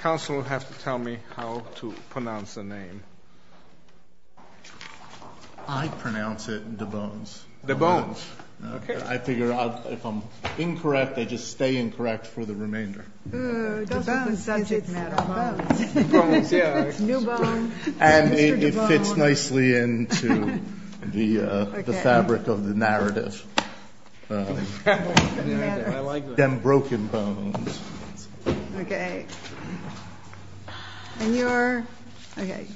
Counsel will have to tell me how to pronounce the name. I pronounce it DeBons. DeBons. I figure out if I'm incorrect, I just stay incorrect for the remainder. DeBons, it's DeBons. It's new bone. And it fits nicely into the fabric of the narrative. I like that. Dem broken bones. And you're? Okay.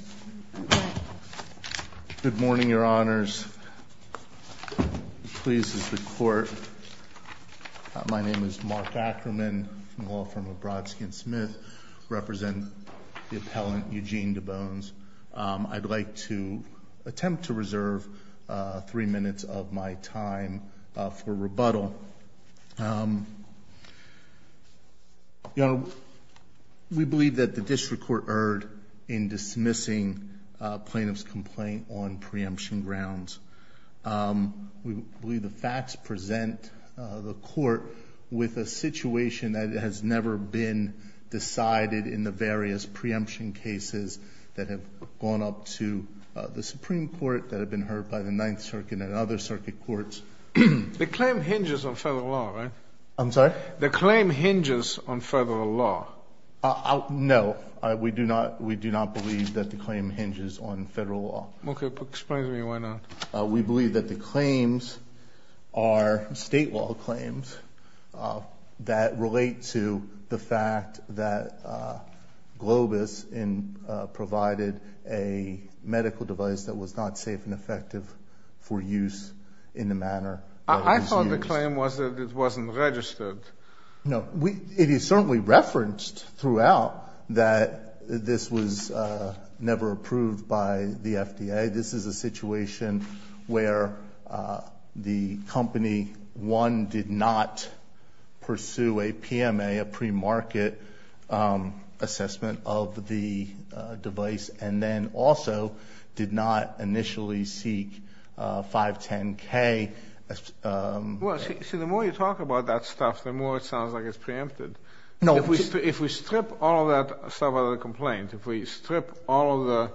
Good morning, Your Honors. Please, this is the Court. My name is Mark Ackerman. I'm a law firm of Brodsky & Smith. I represent the appellant, Eugene DeBons. I'd like to attempt to reserve three minutes of my time for rebuttal. We believe that the district court erred in dismissing plaintiff's complaint on preemption grounds. We believe the facts present the court with a situation that has never been decided in the various preemption cases that have gone up to the Supreme Court, that have been heard by the Ninth Circuit and other circuit courts. The claim hinges on federal law, right? I'm sorry? The claim hinges on federal law. No. We do not believe that the claim hinges on federal law. Okay. Explain to me why not. We believe that the claims are state law claims that relate to the fact that Globus provided a medical device that was not safe and effective for use in the manner that it was used. I thought the claim was that it wasn't registered. No. It is certainly referenced throughout that this was never approved by the FDA. This is a situation where the company, one, did not pursue a PMA, a pre-market assessment of the device, and then also did not initially seek 510K. Well, see, the more you talk about that stuff, the more it sounds like it's preempted. No. If we strip all of that stuff out of the complaint, if we strip all of the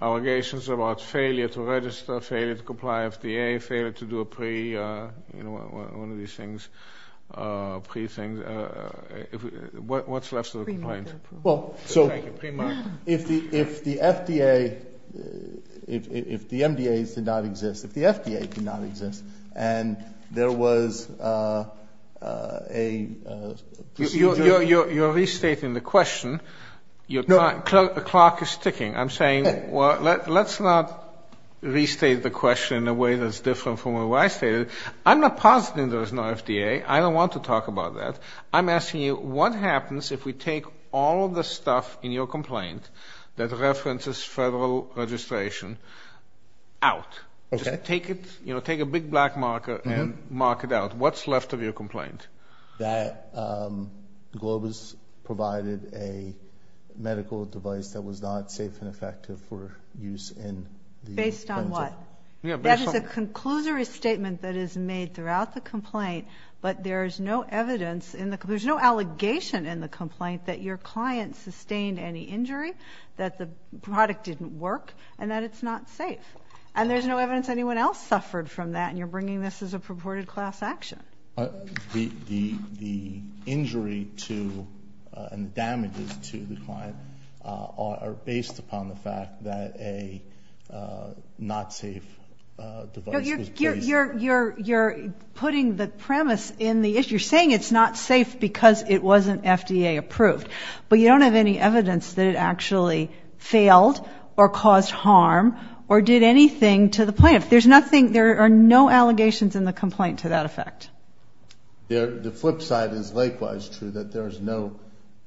allegations about failure to register, failure to comply with the FDA, failure to do a pre, you know, one of these things, pre things, what's left of the complaint? Well, so if the FDA, if the MDAs did not exist, if the FDA did not exist, and there was a procedure You're restating the question. No. The clock is ticking. I'm saying let's not restate the question in a way that's different from what I stated. I'm not positing there is no FDA. I don't want to talk about that. I'm asking you what happens if we take all of the stuff in your complaint that references federal registration out? Okay. Just take it, you know, take a big black marker and mark it out. What's left of your complaint? That Globus provided a medical device that was not safe and effective for use in the Based on what? That is a conclusory statement that is made throughout the complaint, but there is no evidence in the, there's no allegation in the complaint that your client sustained any injury, that the product didn't work, and that it's not safe. And there's no evidence anyone else suffered from that, and you're bringing this as a purported class action. The injury to and the damages to the client are based upon the fact that a not safe device was placed. You're putting the premise in the issue. You're saying it's not safe because it wasn't FDA approved, but you don't have any evidence that it actually failed or caused harm or did anything to the plaintiff. There's nothing, there are no allegations in the complaint to that effect. The flip side is likewise true, that there is no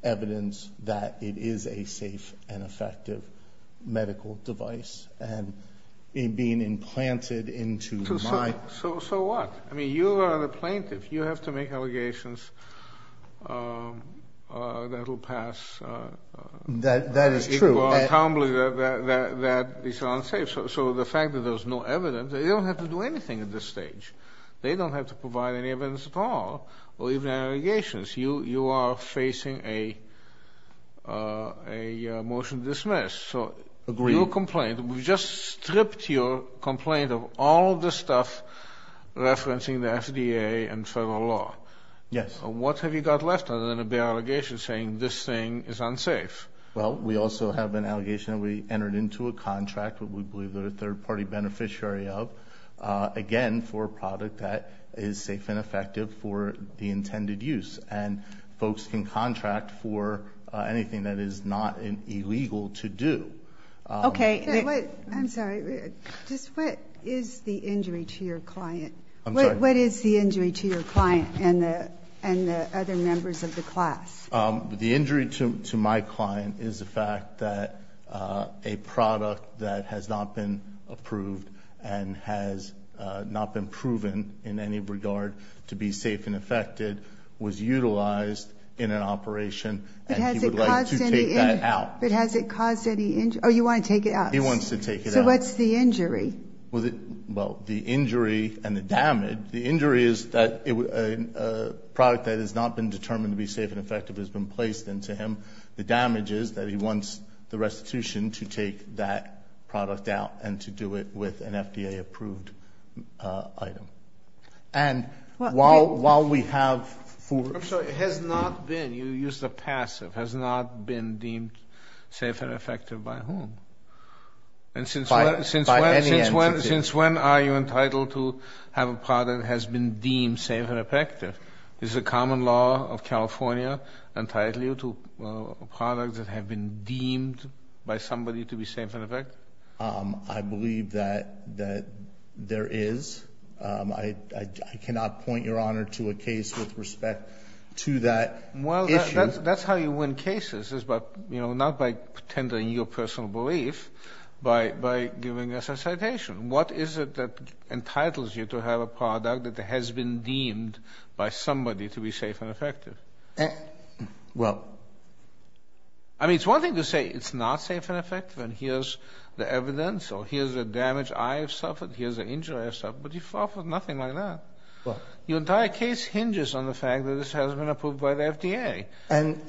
evidence that it is a safe and effective medical device, and it being implanted into my. So what? I mean, you are the plaintiff. You have to make allegations that will pass. That is true. That is unsafe. So the fact that there's no evidence, they don't have to do anything at this stage. They don't have to provide any evidence at all or even allegations. You are facing a motion to dismiss. Agreed. So your complaint, we just stripped your complaint of all the stuff referencing the FDA and federal law. Yes. What have you got left other than a bare allegation saying this thing is unsafe? Well, we also have an allegation that we entered into a contract, what we believe they're a third party beneficiary of, again, for a product that is safe and effective for the intended use. And folks can contract for anything that is not illegal to do. Okay. I'm sorry. Just what is the injury to your client? I'm sorry. What is the injury to your client and the other members of the class? The injury to my client is the fact that a product that has not been approved and has not been proven in any regard to be safe and effective was utilized in an operation. And he would like to take that out. But has it caused any injury? Oh, you want to take it out. He wants to take it out. Well, the injury and the damage, the injury is that a product that has not been determined to be safe and effective has been placed into him. The damage is that he wants the restitution to take that product out and to do it with an FDA-approved item. And while we have four. I'm sorry. It has not been. You used a passive. It has not been deemed safe and effective by whom? By any entity. Since when are you entitled to have a product that has been deemed safe and effective? Is the common law of California entitled you to a product that has been deemed by somebody to be safe and effective? I believe that there is. I cannot point your Honor to a case with respect to that issue. Well, that's how you win cases, but not by pretending your personal belief, but by giving us a citation. What is it that entitles you to have a product that has been deemed by somebody to be safe and effective? Well. I mean, it's one thing to say it's not safe and effective and here's the evidence or here's the damage I have suffered, here's the injury I have suffered, but you fall for nothing like that. Your entire case hinges on the fact that this has been approved by the FDA. And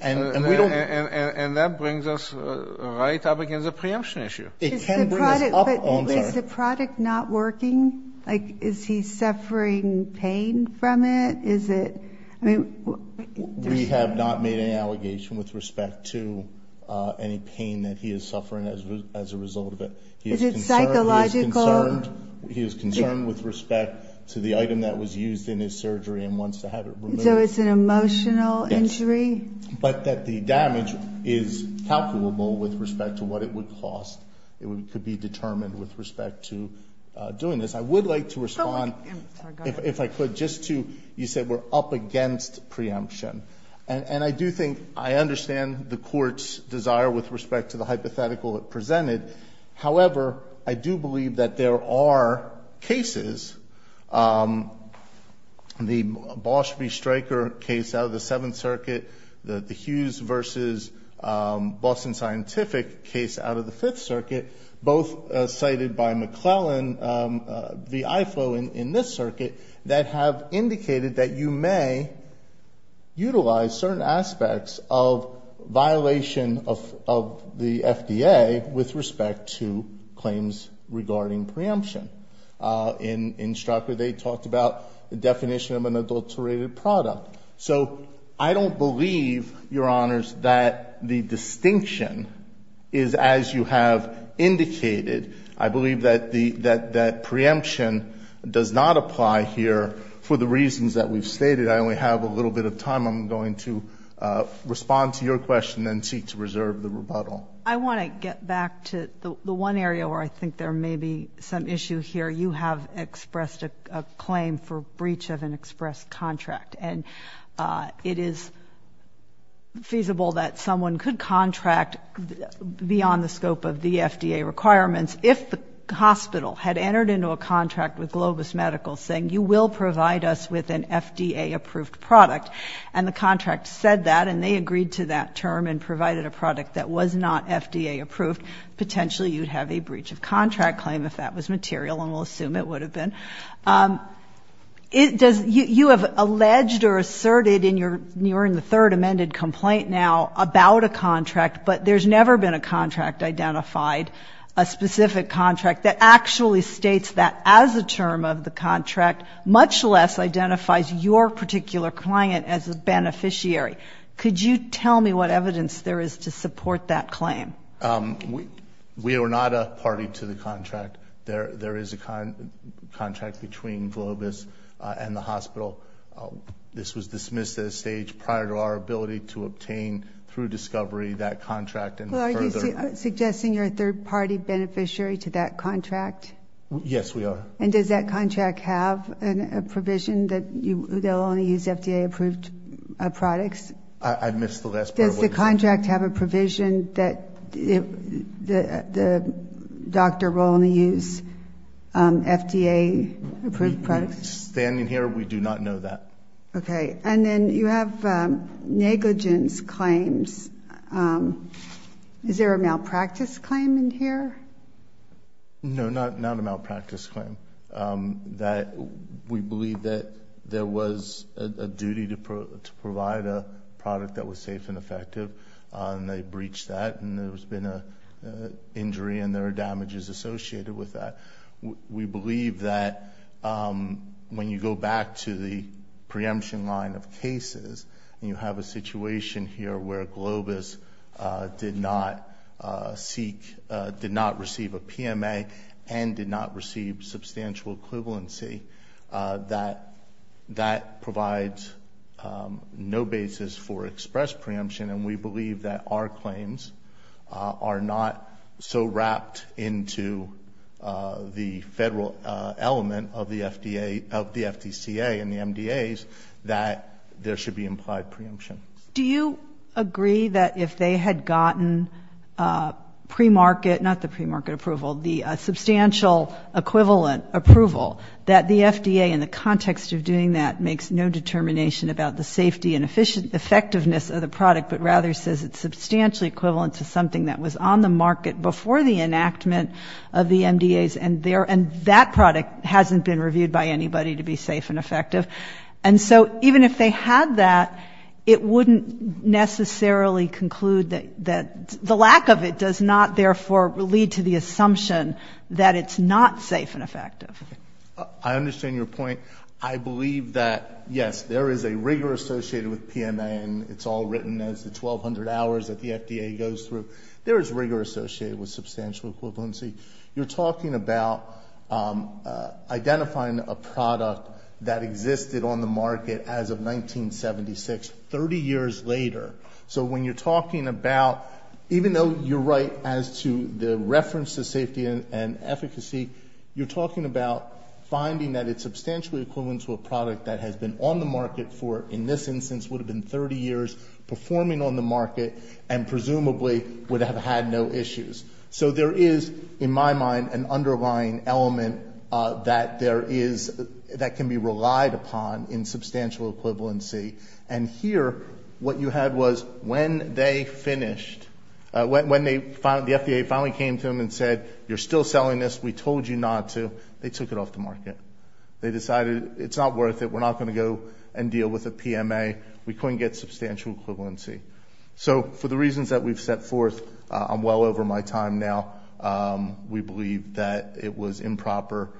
that brings us right up against the preemption issue. It can bring us up. Is the product not working? Like is he suffering pain from it? Is it? We have not made an allegation with respect to any pain that he is suffering as a result of it. Is it psychological? He is concerned with respect to the item that was used in his surgery and wants to have it removed. So it's an emotional injury? Yes. But that the damage is calculable with respect to what it would cost. It could be determined with respect to doing this. I would like to respond, if I could, just to you said we're up against preemption. And I do think I understand the Court's desire with respect to the hypothetical it presented. However, I do believe that there are cases. The Bosch v. Stryker case out of the Seventh Circuit, the Hughes v. Boston Scientific case out of the Fifth Circuit, both cited by McClellan v. Ifo in this circuit, that have indicated that you may utilize certain aspects of violation of the FDA with respect to claims regarding preemption. In Stryker, they talked about the definition of an adulterated product. So I don't believe, Your Honors, that the distinction is as you have indicated. I believe that preemption does not apply here for the reasons that we've stated. I only have a little bit of time. I'm going to respond to your question and seek to reserve the rebuttal. Well, I want to get back to the one area where I think there may be some issue here. You have expressed a claim for breach of an express contract. And it is feasible that someone could contract beyond the scope of the FDA requirements if the hospital had entered into a contract with Globus Medical saying, you will provide us with an FDA-approved product. And the contract said that, and they agreed to that term and provided a product that was not FDA-approved. Potentially you'd have a breach of contract claim if that was material, and we'll assume it would have been. You have alleged or asserted in your third amended complaint now about a contract, but there's never been a contract identified, a specific contract that actually states that as a term of the contract, much less identifies your particular client as a beneficiary. Could you tell me what evidence there is to support that claim? We are not a party to the contract. There is a contract between Globus and the hospital. This was dismissed at a stage prior to our ability to obtain through discovery that contract. Are you suggesting you're a third-party beneficiary to that contract? Yes, we are. And does that contract have a provision that they'll only use FDA-approved products? I missed the last part of what you said. Does the contract have a provision that the doctor will only use FDA-approved products? We stand in here. We do not know that. Okay. And then you have negligence claims. Is there a malpractice claim in here? No, not a malpractice claim. We believe that there was a duty to provide a product that was safe and effective, and they breached that, and there's been an injury, and there are damages associated with that. We believe that when you go back to the preemption line of cases, and you have a situation here where Globus did not seek, did not receive a PMA, and did not receive substantial equivalency, that that provides no basis for express preemption, and we believe that our claims are not so wrapped into the federal element of the FDA, of the FDCA and the MDAs, that there should be implied preemption. Do you agree that if they had gotten premarket, not the premarket approval, the substantial equivalent approval, that the FDA in the context of doing that makes no determination about the safety and effectiveness of the product, but rather says it's substantially equivalent to something that was on the market before the enactment of the MDAs, and that product hasn't been reviewed by anybody to be safe and effective? And so even if they had that, it wouldn't necessarily conclude that the lack of it does not, therefore, lead to the assumption that it's not safe and effective. I understand your point. I believe that, yes, there is a rigor associated with PMA, and it's all written as the 1,200 hours that the FDA goes through. There is rigor associated with substantial equivalency. You're talking about identifying a product that existed on the market as of 1976, 30 years later. So when you're talking about, even though you're right as to the reference to safety and efficacy, you're talking about finding that it's substantially equivalent to a product that has been on the market for, in this instance, would have been 30 years, performing on the market, and presumably would have had no issues. So there is, in my mind, an underlying element that there is, that can be relied upon in substantial equivalency. And here, what you had was when they finished, when the FDA finally came to them and said, you're still selling this, we told you not to, they took it off the market. They decided it's not worth it, we're not going to go and deal with a PMA, we couldn't get substantial equivalency. So for the reasons that we've set forth, I'm well over my time now. We believe that it was improper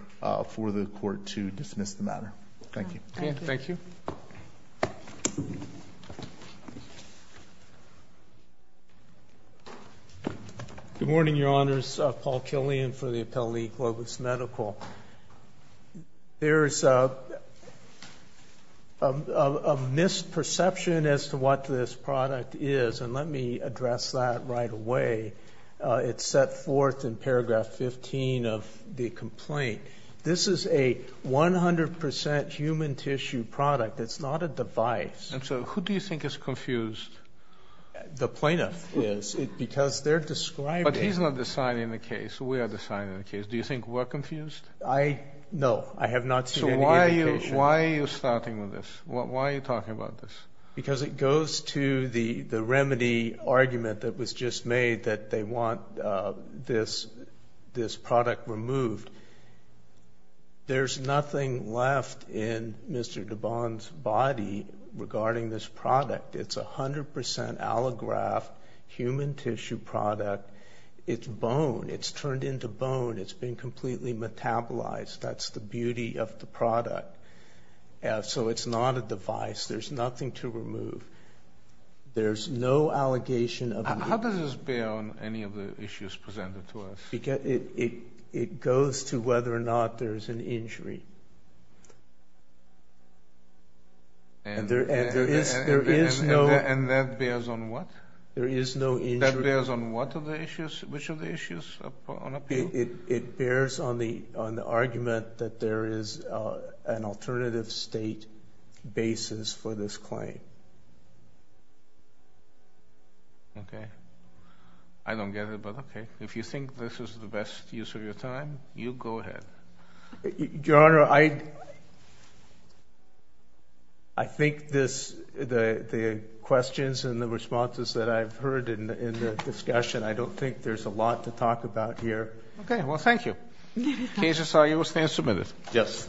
for the court to dismiss the matter. Thank you. Thank you. Good morning, Your Honors. Paul Killian for the Appellee Globus Medical. There is a misperception as to what this product is, and let me address that right away. It's set forth in paragraph 15 of the complaint. This is a 100% human tissue product. It's not a device. And so who do you think is confused? The plaintiff is, because they're describing it. We are deciding the case. Do you think we're confused? No, I have not seen any indication. So why are you starting with this? Why are you talking about this? Because it goes to the remedy argument that was just made that they want this product removed. There's nothing left in Mr. Dubon's body regarding this product. It's a 100% allograft human tissue product. It's bone. It's turned into bone. It's been completely metabolized. That's the beauty of the product. So it's not a device. There's nothing to remove. There's no allegation of the- How does this bear on any of the issues presented to us? It goes to whether or not there's an injury. And that bears on what? There is no injury. That bears on what of the issues? Which of the issues on appeal? It bears on the argument that there is an alternative state basis for this claim. Okay. I don't get it, but okay. If you think this is the best use of your time, you go ahead. Your Honor, I think the questions and the responses that I've heard in the discussion, I don't think there's a lot to talk about here. Okay. Well, thank you. The case is signed. You will stand submitted. Yes.